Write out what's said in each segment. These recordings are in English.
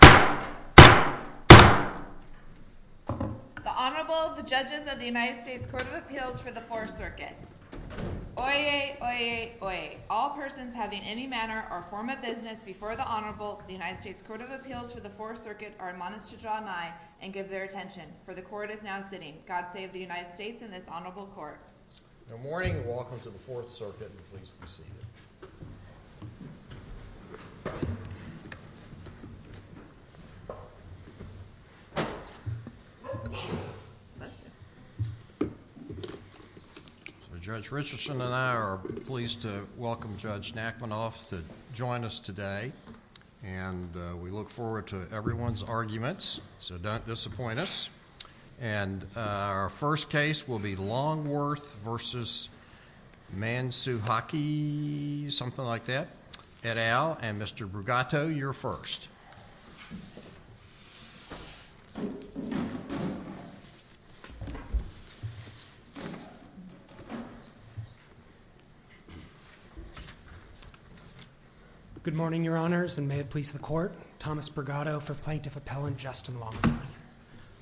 The Honorable, the Judges of the United States Court of Appeals for the Fourth Circuit. Oyez! Oyez! Oyez! All persons having any manner or form of business before the Honorable of the United States Court of Appeals for the Fourth Circuit are admonished to draw an eye and give their attention, for the Court is now sitting. God save the United States and this Honorable Court. Good morning and welcome to the Fourth Circuit. Please proceed. Judge Richardson and I are pleased to welcome Judge Nachmanoff to join us today and we look forward to everyone's arguments, so don't disappoint us. And our first case will be Longworth v. Mansukhani, something like that. Ed Al and Mr. Brigato, you're first. Good morning, Your Honors, and may it please the Court, Thomas Brigato for Plaintiff Appellant Justin Longworth.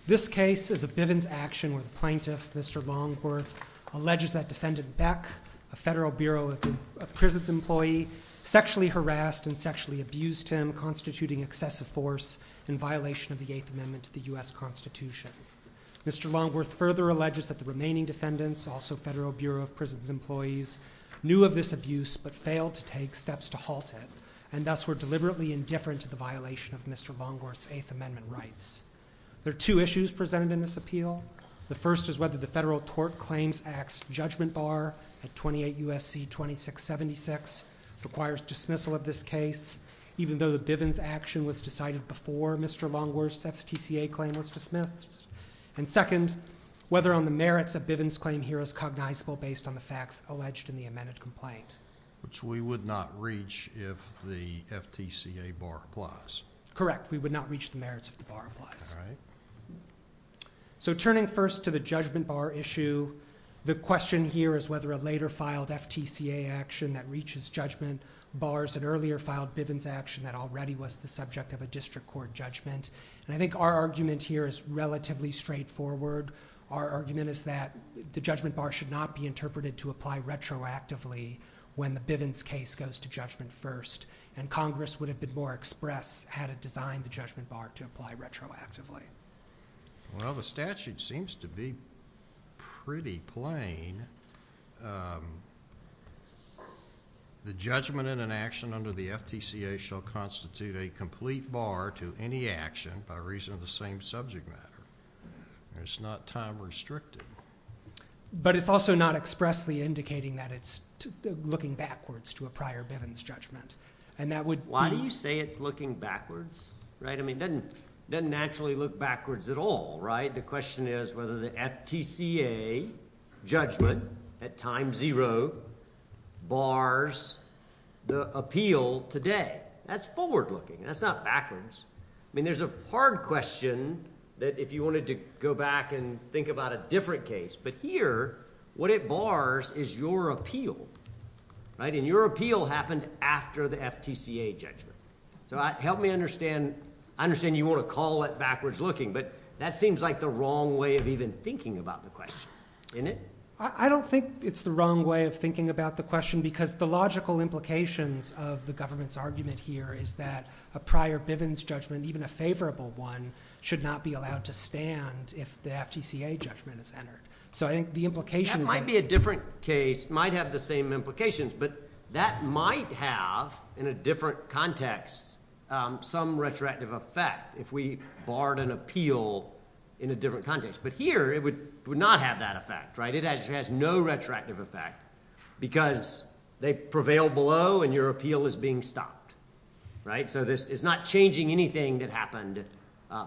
This case is a Bivens action where the Plaintiff, Mr. Longworth, alleges that Defendant Beck, a Federal Bureau of Prisons employee, sexually harassed and sexually abused him, constituting excessive force in violation of the Eighth Amendment to the U.S. Constitution. Mr. Longworth further alleges that the remaining defendants, also Federal Bureau of Prisons employees, knew of this abuse but failed to take steps to halt it and thus were deliberately indifferent to the violation of Mr. Longworth's Eighth Amendment rights. There are two issues presented in this appeal. The first is whether the Federal Tort Claims Act's judgment bar at 28 U.S.C. 2676 requires dismissal of this case, even though the Bivens action was decided before Mr. Longworth's FTCA claim was dismissed. And second, whether on the merits of Bivens claim here is cognizable based on the facts alleged in the amended complaint. Which we would not reach if the FTCA bar applies. Correct, we would not reach the merits if the bar applies. So turning first to the judgment bar issue, the question here is whether a later filed FTCA action that reaches judgment bars an earlier filed Bivens action that already was the subject of a district court judgment. And I think our argument here is relatively straightforward. Our argument is that the judgment bar should not be interpreted to apply retroactively when the Bivens case goes to judgment first. And Congress would have been more express had it designed the judgment bar to apply retroactively. Well, the statute seems to be pretty plain. The judgment in an action under the FTCA shall constitute a complete bar to any action by reason of the same subject matter. It's not time restricted. But it's also not expressly indicating that it's looking backwards to a prior Bivens judgment. Why do you say it's looking backwards? It doesn't naturally look backwards at all. The question is whether the FTCA judgment at time zero bars the appeal today. That's forward looking. That's not backwards. There's a hard question that if you wanted to go back and think about a different case. But here, what it bars is your appeal. And your appeal happened after the FTCA judgment. So help me understand. I understand you want to call it backwards looking. But that seems like the wrong way of even thinking about the question. I don't think it's the wrong way of thinking about the question because the logical implications of the government's argument here is that a prior Bivens judgment, even a favorable one, should not be allowed to stand if the FTCA judgment is entered. That might be a different case. It might have the same implications. But that might have, in a different context, some retroactive effect if we barred an appeal in a different context. But here, it would not have that effect. It has no retroactive effect because they prevail below and your appeal is being stopped. So this is not changing anything that happened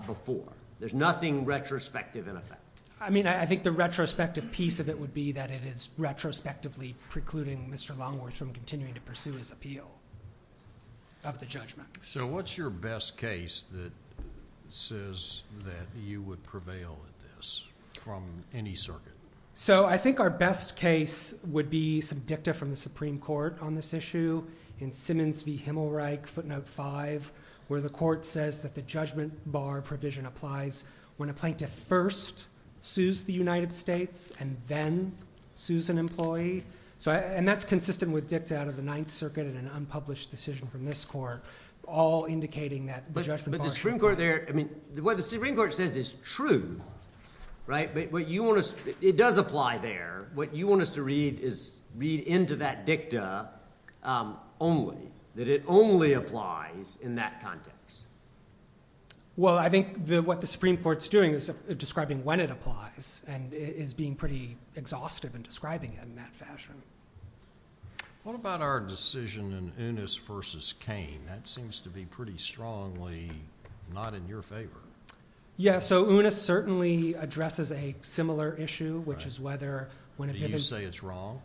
before. There's nothing retrospective in effect. I mean, I think the retrospective piece of it would be that it is retrospectively precluding Mr. Longworth from continuing to pursue his appeal of the judgment. So what's your best case that says that you would prevail at this from any circuit? So I think our best case would be some dicta from the Supreme Court on this issue in Simmons v. Himmelreich, footnote 5, where the court says that the judgment bar provision applies when a plaintiff first sues the United States and then sues an employee. And that's consistent with dicta out of the Ninth Circuit in an unpublished decision from this court, all indicating that the judgment bar should apply. What the Supreme Court says is true, but it does apply there. What you want us to read is read into that dicta only, that it only applies in that context. Well, I think what the Supreme Court's doing is describing when it applies and is being pretty exhaustive in describing it in that fashion. What about our decision in Unis v. Cain? That seems to be pretty strongly not in your favor. Yeah, so Unis certainly addresses a similar issue, which is whether when a Bivens… Do you say it's wrong?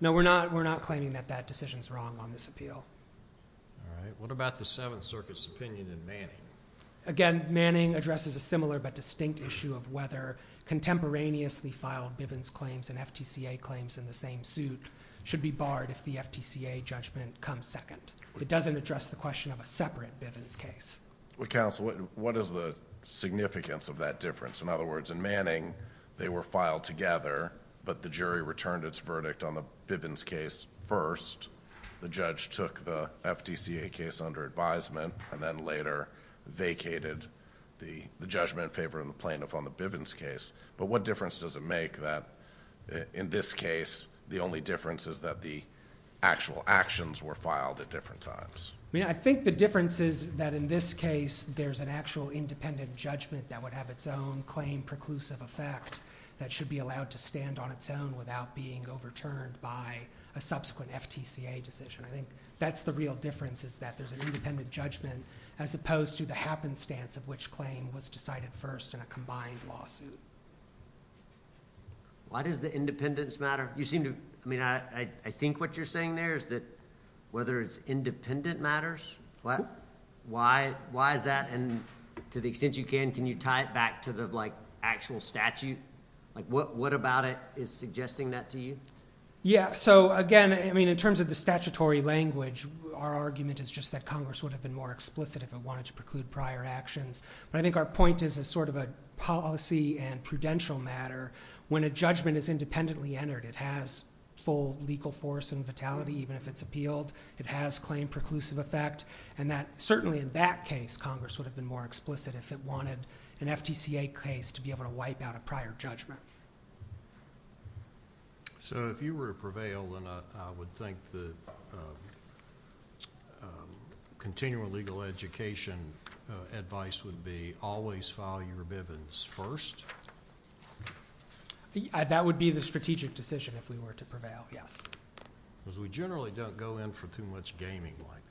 No, we're not claiming that that decision's wrong on this appeal. All right. What about the Seventh Circuit's opinion in Manning? Again, Manning addresses a similar but distinct issue of whether contemporaneously filed Bivens claims and FTCA claims in the same suit should be barred if the FTCA judgment comes second. It doesn't address the question of a separate Bivens case. Well, counsel, what is the significance of that difference? In other words, in Manning, they were filed together, but the jury returned its verdict on the Bivens case first. The judge took the FTCA case under advisement and then later vacated the judgment in favor of the plaintiff on the Bivens case. But what difference does it make that in this case, the only difference is that the actual actions were filed at different times? I mean, I think the difference is that in this case, there's an actual independent judgment that would have its own claim preclusive effect that should be allowed to stand on its own without being overturned by a subsequent FTCA decision. I think that's the real difference is that there's an independent judgment as opposed to the happenstance of which claim was decided first in a combined lawsuit. Why does the independence matter? I think what you're saying there is that whether it's independent matters. Why is that? And to the extent you can, can you tie it back to the actual statute? What about it is suggesting that to you? Yeah, so again, in terms of the statutory language, our argument is just that Congress would have been more explicit if it wanted to preclude prior actions. But I think our point is as sort of a policy and prudential matter, when a judgment is independently entered, it has full legal force and vitality even if it's appealed. It has claim preclusive effect. And that certainly in that case, Congress would have been more explicit if it wanted an FTCA case to be able to wipe out a prior judgment. So if you were to prevail, then I would think that continuing legal education advice would be always file your bivens first? That would be the strategic decision if we were to prevail, yes. Because we generally don't go in for too much gaming like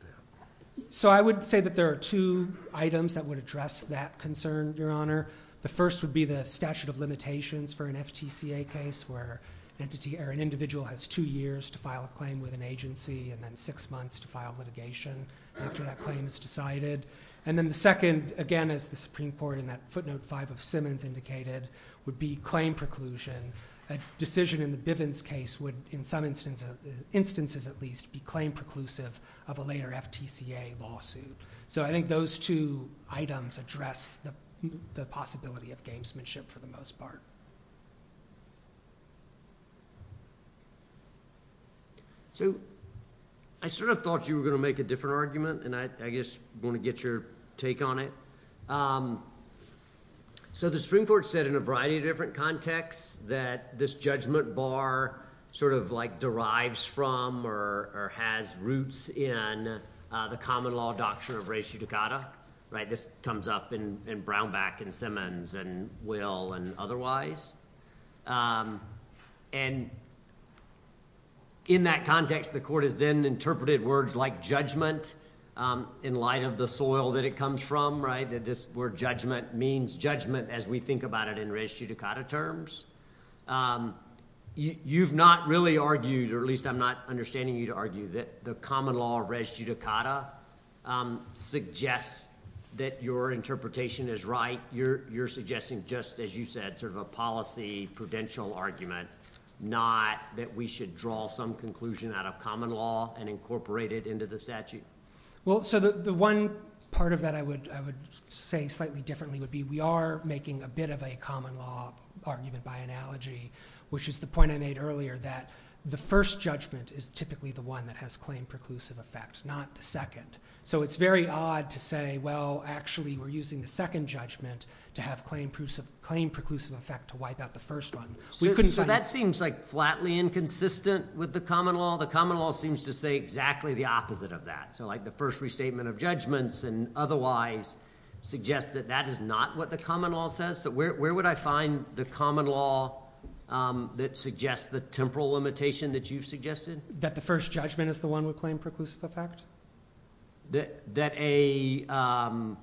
that. So I would say that there are two items that would address that concern, Your Honor. The first would be the statute of limitations for an FTCA case where an individual has two years to file a claim with an agency and then six months to file litigation after that claim is decided. And then the second, again, as the Supreme Court in that footnote five of Simmons indicated, would be claim preclusion. A decision in the bivens case would, in some instances at least, be claim preclusive of a later FTCA lawsuit. So I think those two items address the possibility of gamesmanship for the most part. So I sort of thought you were going to make a different argument, and I just want to get your take on it. So the Supreme Court said in a variety of different contexts that this judgment bar sort of derives from or has roots in the common law doctrine of res judicata. This comes up in Brownback and Simmons and Will and otherwise. And in that context, the court has then interpreted words like judgment in light of the soil that it comes from, that this word judgment means judgment as we think about it in res judicata terms. You've not really argued, or at least I'm not understanding you to argue that the common law of res judicata suggests that your interpretation is right. You're suggesting just, as you said, sort of a policy prudential argument, not that we should draw some conclusion out of common law and incorporate it into the statute. Well, so the one part of that I would say slightly differently would be we are making a bit of a common law argument by analogy, which is the point I made earlier that the first judgment is typically the one that has claim preclusive effect, not the second. So it's very odd to say, well, actually, we're using the second judgment to have claim preclusive effect to wipe out the first one. So that seems like flatly inconsistent with the common law. The common law seems to say exactly the opposite of that. So like the first restatement of judgments and otherwise suggests that that is not what the common law says. So where would I find the common law that suggests the temporal limitation that you've suggested? That the first judgment is the one with claim preclusive effect? That a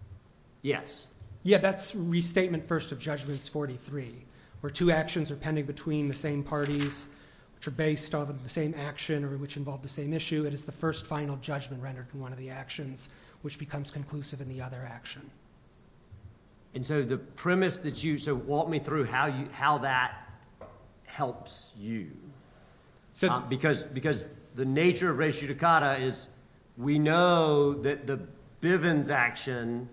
– yes. Yeah, that's restatement first of judgments 43, where two actions are pending between the same parties, which are based on the same action or which involve the same issue. It is the first final judgment rendered in one of the actions which becomes conclusive in the other action. And so the premise that you – so walk me through how that helps you. Because the nature of res judicata is we know that the Bivens action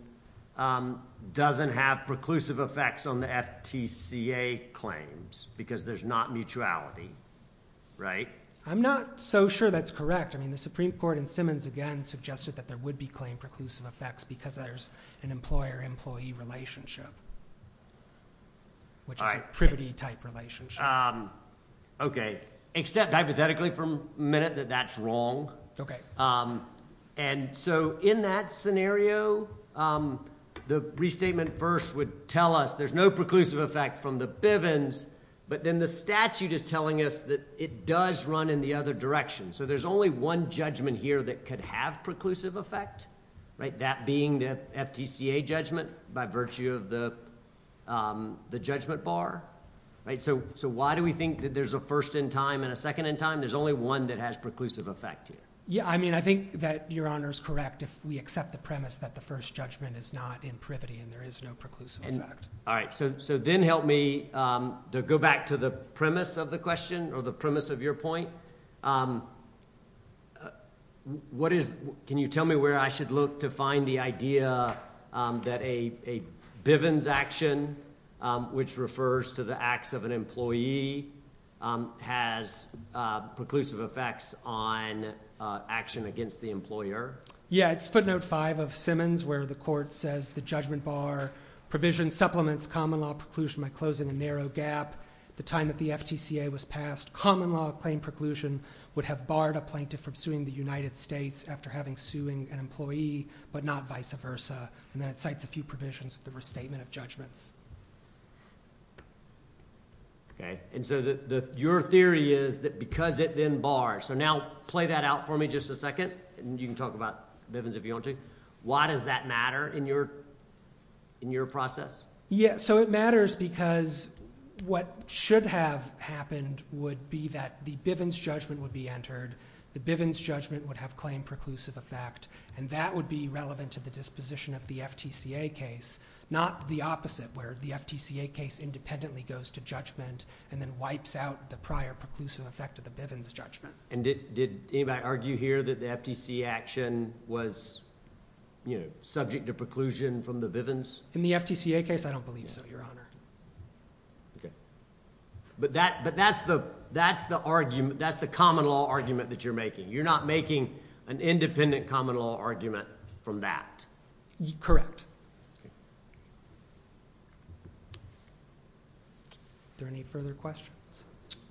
doesn't have preclusive effects on the FTCA claims because there's not mutuality, right? I'm not so sure that's correct. I mean the Supreme Court in Simmons again suggested that there would be claim preclusive effects because there's an employer-employee relationship, which is a privity-type relationship. Okay. Except hypothetically for a minute that that's wrong. Okay. And so in that scenario, the restatement first would tell us there's no preclusive effect from the Bivens. But then the statute is telling us that it does run in the other direction. So there's only one judgment here that could have preclusive effect, that being the FTCA judgment by virtue of the judgment bar. So why do we think that there's a first in time and a second in time? There's only one that has preclusive effect here. Yeah, I mean I think that Your Honor is correct if we accept the premise that the first judgment is not in privity and there is no preclusive effect. All right. So then help me go back to the premise of the question or the premise of your point. Can you tell me where I should look to find the idea that a Bivens action, which refers to the acts of an employee, has preclusive effects on action against the employer? Yeah, it's footnote five of Simmons where the court says the judgment bar provision supplements common law preclusion by closing a narrow gap. The time that the FTCA was passed, common law claim preclusion would have barred a plaintiff from suing the United States after having suing an employee, but not vice versa. And then it cites a few provisions of the restatement of judgments. Okay. And so your theory is that because it then bars. So now play that out for me just a second, and you can talk about Bivens if you want to. Why does that matter in your process? Yeah, so it matters because what should have happened would be that the Bivens judgment would be entered. The Bivens judgment would have claimed preclusive effect, and that would be relevant to the disposition of the FTCA case, not the opposite where the FTCA case independently goes to judgment and then wipes out the prior preclusive effect of the Bivens judgment. And did anybody argue here that the FTCA action was subject to preclusion from the Bivens? In the FTCA case, I don't believe so, Your Honor. Okay. But that's the common law argument that you're making. You're not making an independent common law argument from that. Correct. Are there any further questions?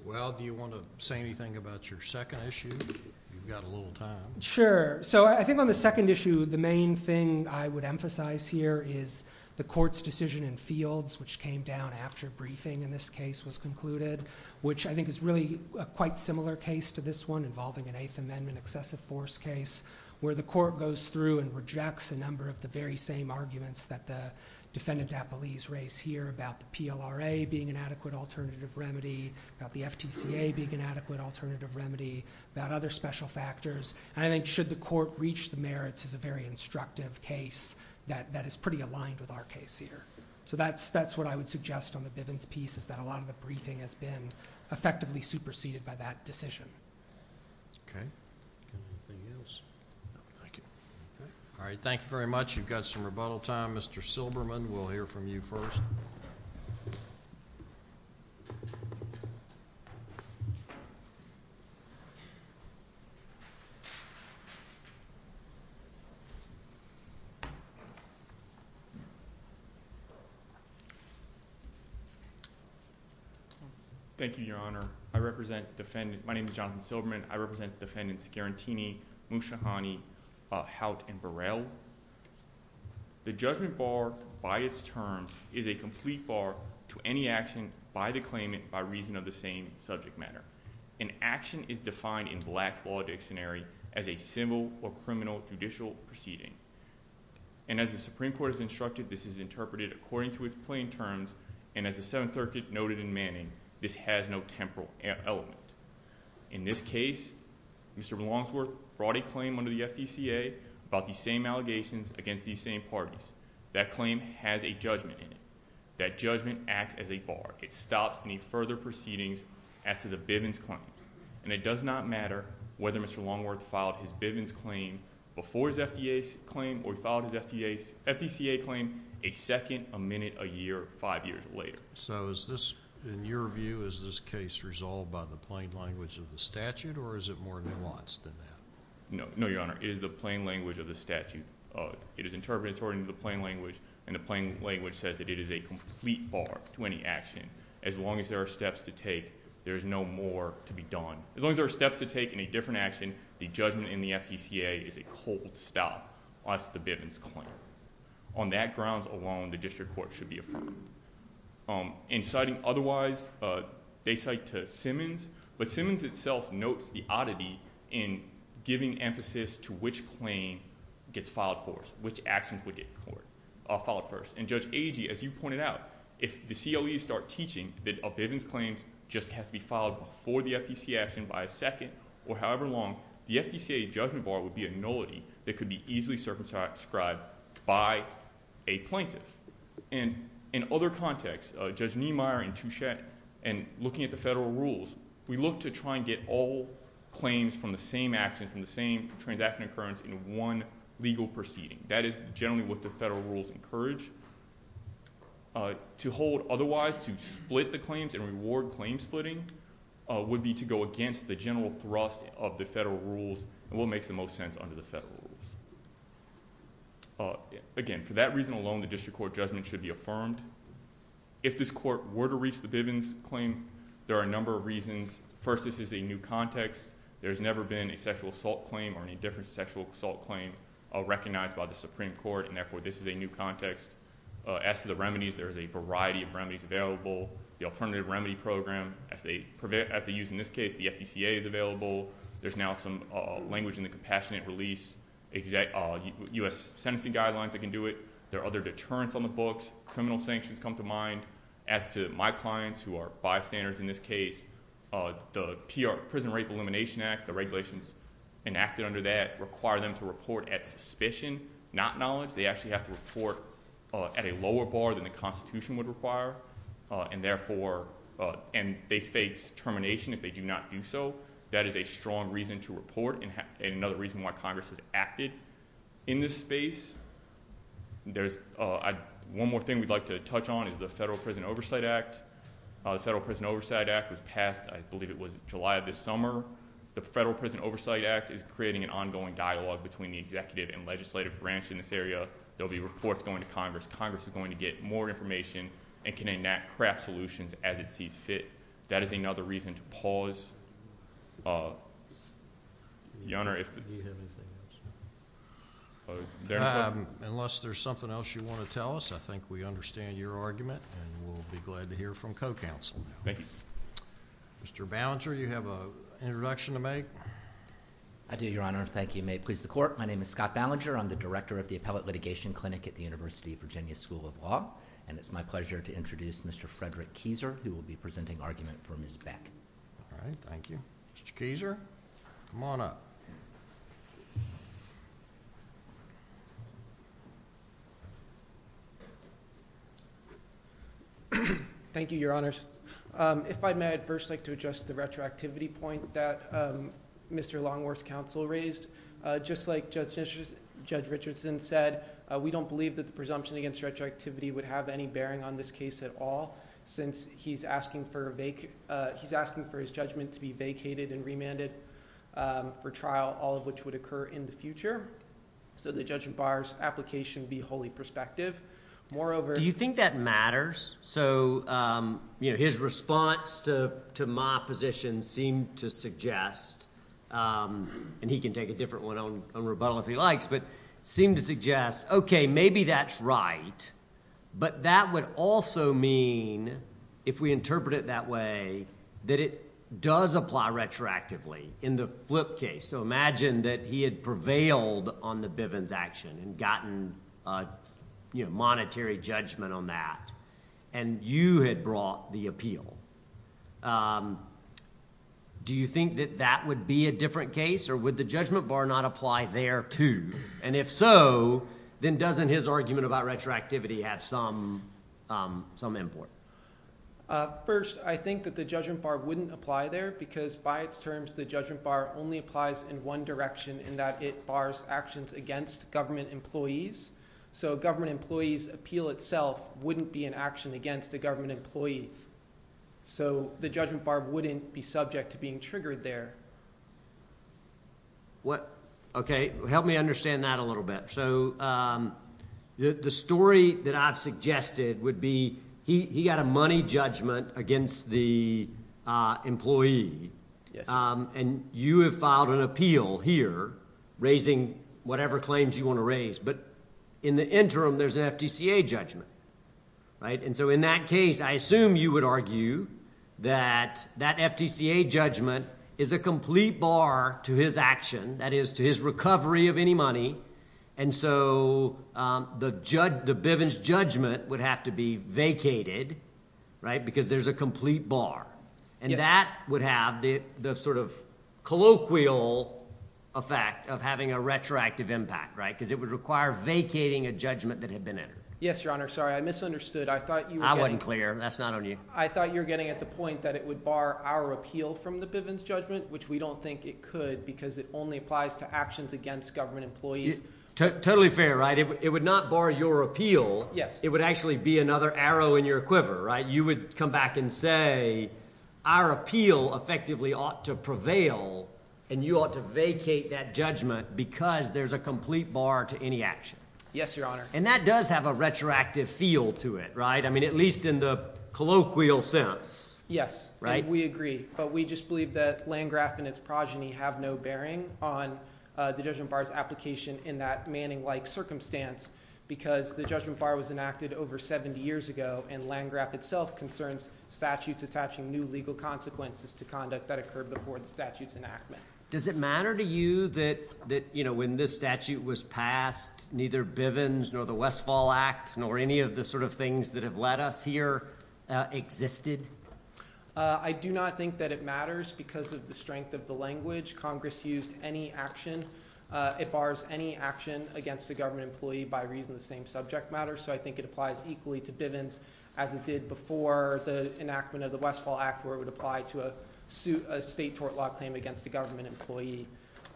Well, do you want to say anything about your second issue? You've got a little time. Sure. So I think on the second issue, the main thing I would emphasize here is the court's decision in fields, which came down after briefing in this case was concluded, which I think is really a quite similar case to this one involving an Eighth Amendment excessive force case, where the court goes through and rejects a number of the very same arguments that the defendant at Belize raised here about the PLRA being an adequate alternative remedy, about the FTCA being an adequate alternative remedy, about other special factors. And I think should the court reach the merits is a very instructive case that is pretty aligned with our case here. So that's what I would suggest on the Bivens piece is that a lot of the briefing has been effectively superseded by that decision. Okay. Anything else? No, thank you. All right. Thank you very much. You've got some rebuttal time. Mr. Silberman, we'll hear from you first. Thank you, Your Honor. My name is Jonathan Silberman. I represent Defendants Garantini, Muschiani, Hout, and Burrell. The judgment bar by its terms is a complete bar to any action by the claimant by reason of the same subject matter. An action is defined in Black's Law Dictionary as a civil or criminal judicial proceeding. And as the Supreme Court has instructed, this is interpreted according to its plain terms, and as the Seventh Circuit noted in Manning, this has no temporal element. In this case, Mr. Longsworth brought a claim under the FDCA about the same allegations against these same parties. That claim has a judgment in it. That judgment acts as a bar. It stops any further proceedings as to the Bivens claim. And it does not matter whether Mr. Longworth filed his Bivens claim before his FDCA claim or he filed his FDCA claim a second, a minute, a year, five years later. So is this, in your view, is this case resolved by the plain language of the statute, or is it more nuanced than that? No, Your Honor. It is the plain language of the statute. It is interpreted according to the plain language, and the plain language says that it is a complete bar to any action. As long as there are steps to take, there is no more to be done. As long as there are steps to take in a different action, the judgment in the FDCA is a cold stop. That's the Bivens claim. On that grounds alone, the district court should be affirmed. In citing otherwise, they cite to Simmons. But Simmons itself notes the oddity in giving emphasis to which claim gets filed first, which actions would get filed first. And Judge Agee, as you pointed out, if the CLEs start teaching that a Bivens claim just has to be filed before the FDCA action by a second or however long, the FDCA judgment bar would be a nullity that could be easily circumscribed by a plaintiff. And in other contexts, Judge Niemeyer and Touchette, and looking at the federal rules, we look to try and get all claims from the same action, from the same transaction occurrence in one legal proceeding. That is generally what the federal rules encourage. To hold otherwise, to split the claims and reward claim splitting, would be to go against the general thrust of the federal rules and what makes the most sense under the federal rules. Again, for that reason alone, the district court judgment should be affirmed. If this court were to reach the Bivens claim, there are a number of reasons. First, this is a new context. There has never been a sexual assault claim or any different sexual assault claim recognized by the Supreme Court, and therefore this is a new context. As to the remedies, there is a variety of remedies available. The alternative remedy program, as they use in this case, the FDCA is available. There's now some language in the compassionate release. U.S. sentencing guidelines that can do it. There are other deterrents on the books. Criminal sanctions come to mind. As to my clients, who are bystanders in this case, the Prison Rape Elimination Act, the regulations enacted under that, require them to report at suspicion, not knowledge. They actually have to report at a lower bar than the Constitution would require, and they face termination if they do not do so. That is a strong reason to report and another reason why Congress has acted in this space. One more thing we'd like to touch on is the Federal Prison Oversight Act. The Federal Prison Oversight Act was passed, I believe it was July of this summer. The Federal Prison Oversight Act is creating an ongoing dialogue between the executive and legislative branch in this area. There will be reports going to Congress. Congress is going to get more information and can enact craft solutions as it sees fit. That is another reason to pause. Your Honor, if— Do you have anything else? Unless there's something else you want to tell us, I think we understand your argument, and we'll be glad to hear from co-counsel. Thank you. Mr. Ballinger, do you have an introduction to make? I do, Your Honor. Thank you. May it please the Court, my name is Scott Ballinger. I'm the Director of the Appellate Litigation Clinic at the University of Virginia School of Law. It's my pleasure to introduce Mr. Frederick Kieser, who will be presenting argument for Ms. Beck. All right, thank you. Mr. Kieser, come on up. Thank you, Your Honors. If I may, I'd first like to address the retroactivity point that Mr. Longworth's counsel raised. Just like Judge Richardson said, we don't believe that the presumption against retroactivity would have any bearing on this case at all. Since he's asking for his judgment to be vacated and remanded for trial, all of which would occur in the future, so that Judge Barr's application would be wholly prospective. Moreover— Do you think that matters? So his response to my position seemed to suggest—and he can take a different one on rebuttal if he likes— seemed to suggest, okay, maybe that's right, but that would also mean, if we interpret it that way, that it does apply retroactively in the Flip case. So imagine that he had prevailed on the Bivens action and gotten monetary judgment on that, and you had brought the appeal. Do you think that that would be a different case, or would the judgment bar not apply there, too? And if so, then doesn't his argument about retroactivity have some import? First, I think that the judgment bar wouldn't apply there because, by its terms, the judgment bar only applies in one direction, in that it bars actions against government employees. So a government employee's appeal itself wouldn't be an action against a government employee. So the judgment bar wouldn't be subject to being triggered there. Okay, help me understand that a little bit. So the story that I've suggested would be he got a money judgment against the employee, and you have filed an appeal here raising whatever claims you want to raise. But in the interim, there's an FTCA judgment. And so in that case, I assume you would argue that that FTCA judgment is a complete bar to his action, that is, to his recovery of any money. And so the Bivens judgment would have to be vacated because there's a complete bar. And that would have the sort of colloquial effect of having a retroactive impact, right? Because it would require vacating a judgment that had been entered. Yes, Your Honor. Sorry, I misunderstood. I wasn't clear. That's not on you. I thought you were getting at the point that it would bar our appeal from the Bivens judgment, which we don't think it could because it only applies to actions against government employees. Totally fair, right? It would not bar your appeal. It would actually be another arrow in your quiver, right? You would come back and say our appeal effectively ought to prevail and you ought to vacate that judgment because there's a complete bar to any action. Yes, Your Honor. And that does have a retroactive feel to it, right? I mean at least in the colloquial sense. Yes. And we agree. But we just believe that Landgraf and its progeny have no bearing on the judgment bar's application in that Manning-like circumstance because the judgment bar was enacted over 70 years ago and Landgraf itself concerns statutes attaching new legal consequences to conduct that occurred before the statute's enactment. Does it matter to you that, you know, when this statute was passed, neither Bivens nor the Westfall Act nor any of the sort of things that have led us here existed? I do not think that it matters because of the strength of the language. Congress used any action. It bars any action against a government employee by reason the same subject matters. So I think it applies equally to Bivens as it did before the enactment of the Westfall Act where it would apply to a state tort law claim against a government employee.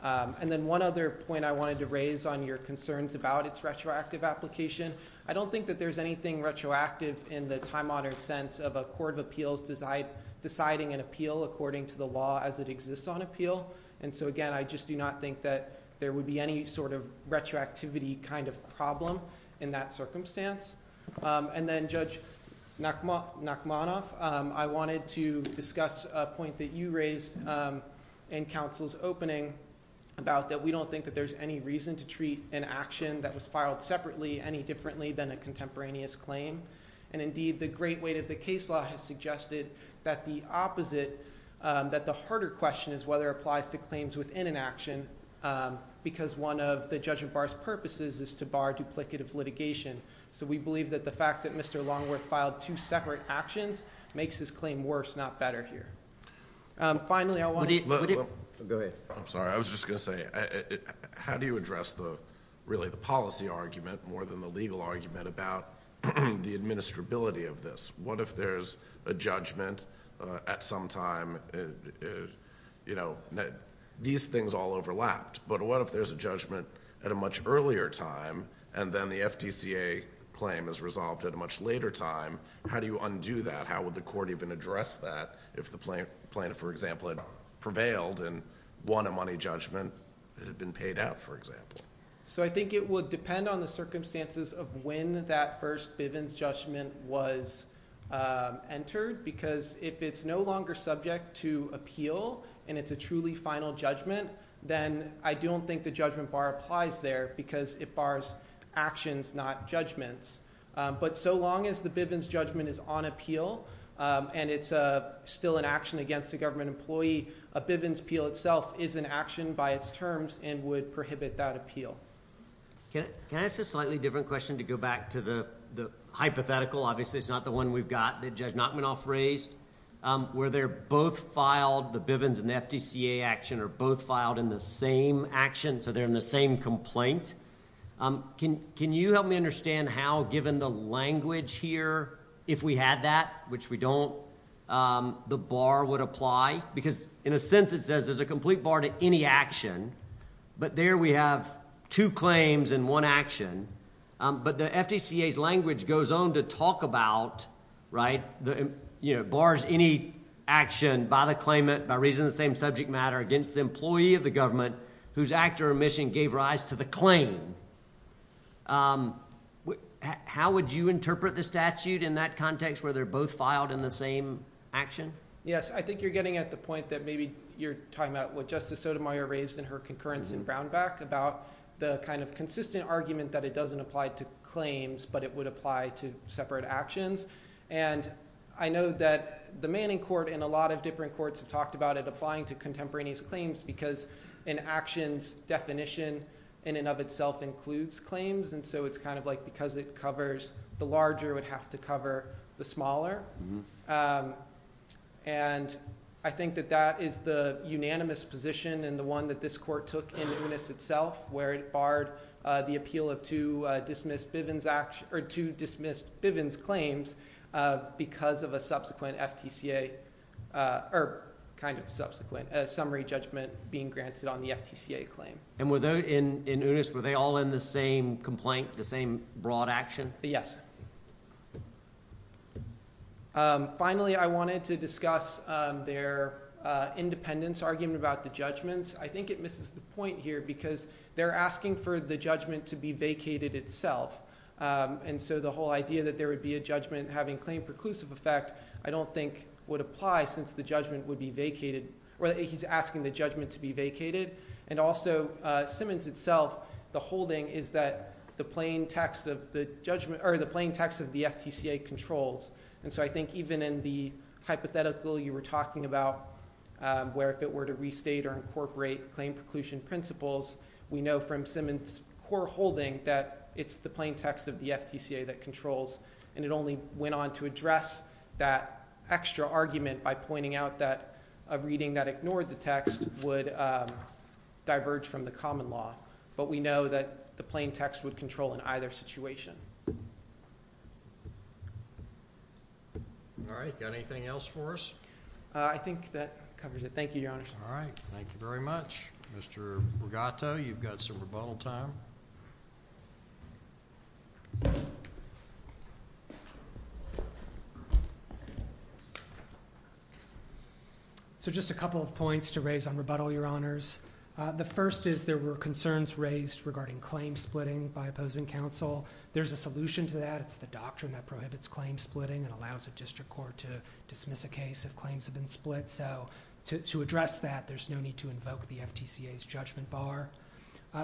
And then one other point I wanted to raise on your concerns about its retroactive application. I don't think that there's anything retroactive in the time-honored sense of a court of appeals deciding an appeal according to the law as it exists on appeal. And so, again, I just do not think that there would be any sort of retroactivity kind of problem in that circumstance. And then, Judge Nachmanoff, I wanted to discuss a point that you raised in counsel's opening about that we don't think that there's any reason to treat an action that was filed separately any differently than a contemporaneous claim. And, indeed, the great weight of the case law has suggested that the opposite – that the harder question is whether it applies to claims within an action because one of the judgment bar's purposes is to bar duplicative litigation. So we believe that the fact that Mr. Longworth filed two separate actions makes his claim worse, not better here. Finally, I want to – Go ahead. I'm sorry. I was just going to say how do you address really the policy argument more than the legal argument about the administrability of this? What if there's a judgment at some time – these things all overlapped. But what if there's a judgment at a much earlier time and then the FDCA claim is resolved at a much later time? How do you undo that? How would the court even address that if the plaintiff, for example, had prevailed and won a money judgment that had been paid out, for example? So I think it would depend on the circumstances of when that first Bivens judgment was entered because if it's no longer subject to appeal and it's a truly final judgment, then I don't think the judgment bar applies there because it bars actions, not judgments. But so long as the Bivens judgment is on appeal and it's still an action against a government employee, a Bivens appeal itself is an action by its terms and would prohibit that appeal. Can I ask a slightly different question to go back to the hypothetical? Obviously, it's not the one we've got that Judge Nachmanoff raised where they're both filed – the Bivens and the FDCA action are both filed in the same action, so they're in the same complaint. Can you help me understand how, given the language here, if we had that, which we don't, the bar would apply? Because in a sense, it says there's a complete bar to any action, but there we have two claims and one action. But the FDCA's language goes on to talk about – bars any action by the claimant by reason of the same subject matter against the employee of the government whose act or omission gave rise to the claim. How would you interpret the statute in that context where they're both filed in the same action? Yes, I think you're getting at the point that maybe you're talking about what Justice Sotomayor raised in her concurrence in Brownback about the kind of consistent argument that it doesn't apply to claims, but it would apply to separate actions. And I know that the Manning Court and a lot of different courts have talked about it applying to contemporaneous claims because an action's definition in and of itself includes claims, and so it's kind of like because it covers – the larger would have to cover the smaller. And I think that that is the unanimous position and the one that this court took in Unis itself where it barred the appeal of two dismissed Bivens claims because of a subsequent FDCA – or kind of subsequent – a summary judgment being granted on the FTCA claim. And were they – in Unis, were they all in the same complaint, the same broad action? Yes. Finally, I wanted to discuss their independence argument about the judgments. I think it misses the point here because they're asking for the judgment to be vacated itself, and so the whole idea that there would be a judgment having claim preclusive effect I don't think would apply since the judgment would be vacated – or he's asking the judgment to be vacated. And also Simmons itself, the holding is that the plain text of the judgment – or the plain text of the FTCA controls, and so I think even in the hypothetical you were talking about where if it were to restate or incorporate claim preclusion principles, we know from Simmons' core holding that it's the plain text of the FTCA that controls. And it only went on to address that extra argument by pointing out that a reading that ignored the text would diverge from the common law. But we know that the plain text would control in either situation. All right. Got anything else for us? I think that covers it. Thank you, Your Honor. All right. Thank you very much. Mr. Rigato, you've got some rebuttal time. So just a couple of points to raise on rebuttal, Your Honors. The first is there were concerns raised regarding claim splitting by opposing counsel. There's a solution to that. It's the doctrine that prohibits claim splitting and allows a district court to dismiss a case if claims have been split. So to address that, there's no need to invoke the FTCA's judgment bar.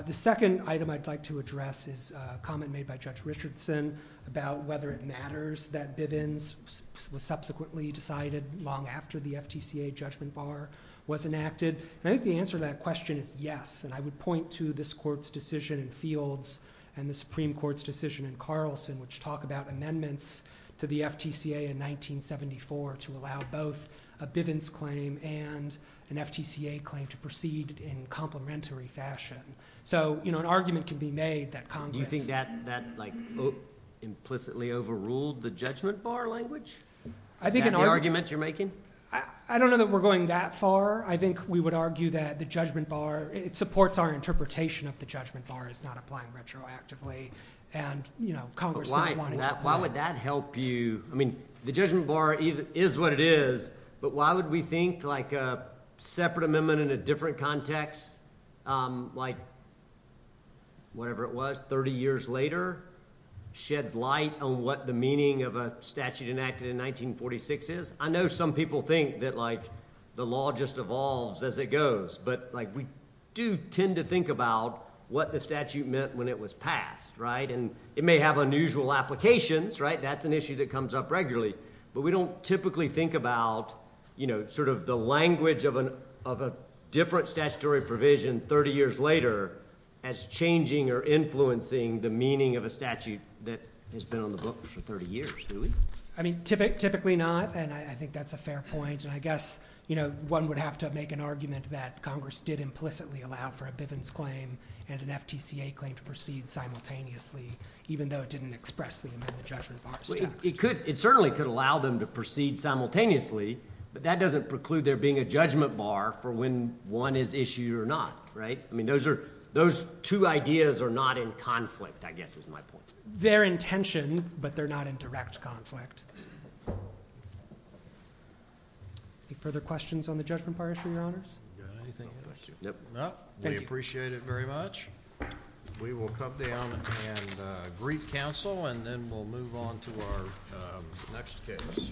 The second item I'd like to address is a comment made by Judge Richardson about whether it matters that Bivens was subsequently decided long after the FTCA judgment bar was enacted. And I think the answer to that question is yes. And I would point to this court's decision in Fields and the Supreme Court's decision in Carlson, which talk about amendments to the FTCA in 1974 to allow both a Bivens claim and an FTCA claim to proceed in complementary fashion. So, you know, an argument can be made that Congress— Do you think that, like, implicitly overruled the judgment bar language? I think— That argument you're making? I don't know that we're going that far. I think we would argue that the judgment bar—it supports our interpretation of the judgment bar as not applying retroactively. And, you know, Congress— Why would that help you? I mean, the judgment bar is what it is, but why would we think, like, a separate amendment in a different context, like, whatever it was, 30 years later, sheds light on what the meaning of a statute enacted in 1946 is? I know some people think that, like, the law just evolves as it goes. But, like, we do tend to think about what the statute meant when it was passed, right? And it may have unusual applications, right? That's an issue that comes up regularly. But we don't typically think about, you know, sort of the language of a different statutory provision 30 years later as changing or influencing the meaning of a statute that has been on the books for 30 years, do we? I mean, typically not, and I think that's a fair point. And I guess, you know, one would have to make an argument that Congress did implicitly allow for a Bivens claim and an FTCA claim to proceed simultaneously, even though it didn't express the amendment judgment bar. It could—it certainly could allow them to proceed simultaneously, but that doesn't preclude there being a judgment bar for when one is issued or not, right? I mean, those are—those two ideas are not in conflict, I guess, is my point. Their intention, but they're not in direct conflict. Any further questions on the judgment bar issue, Your Honors? No, thank you. We appreciate it very much. We will come down and greet counsel, and then we'll move on to our next case.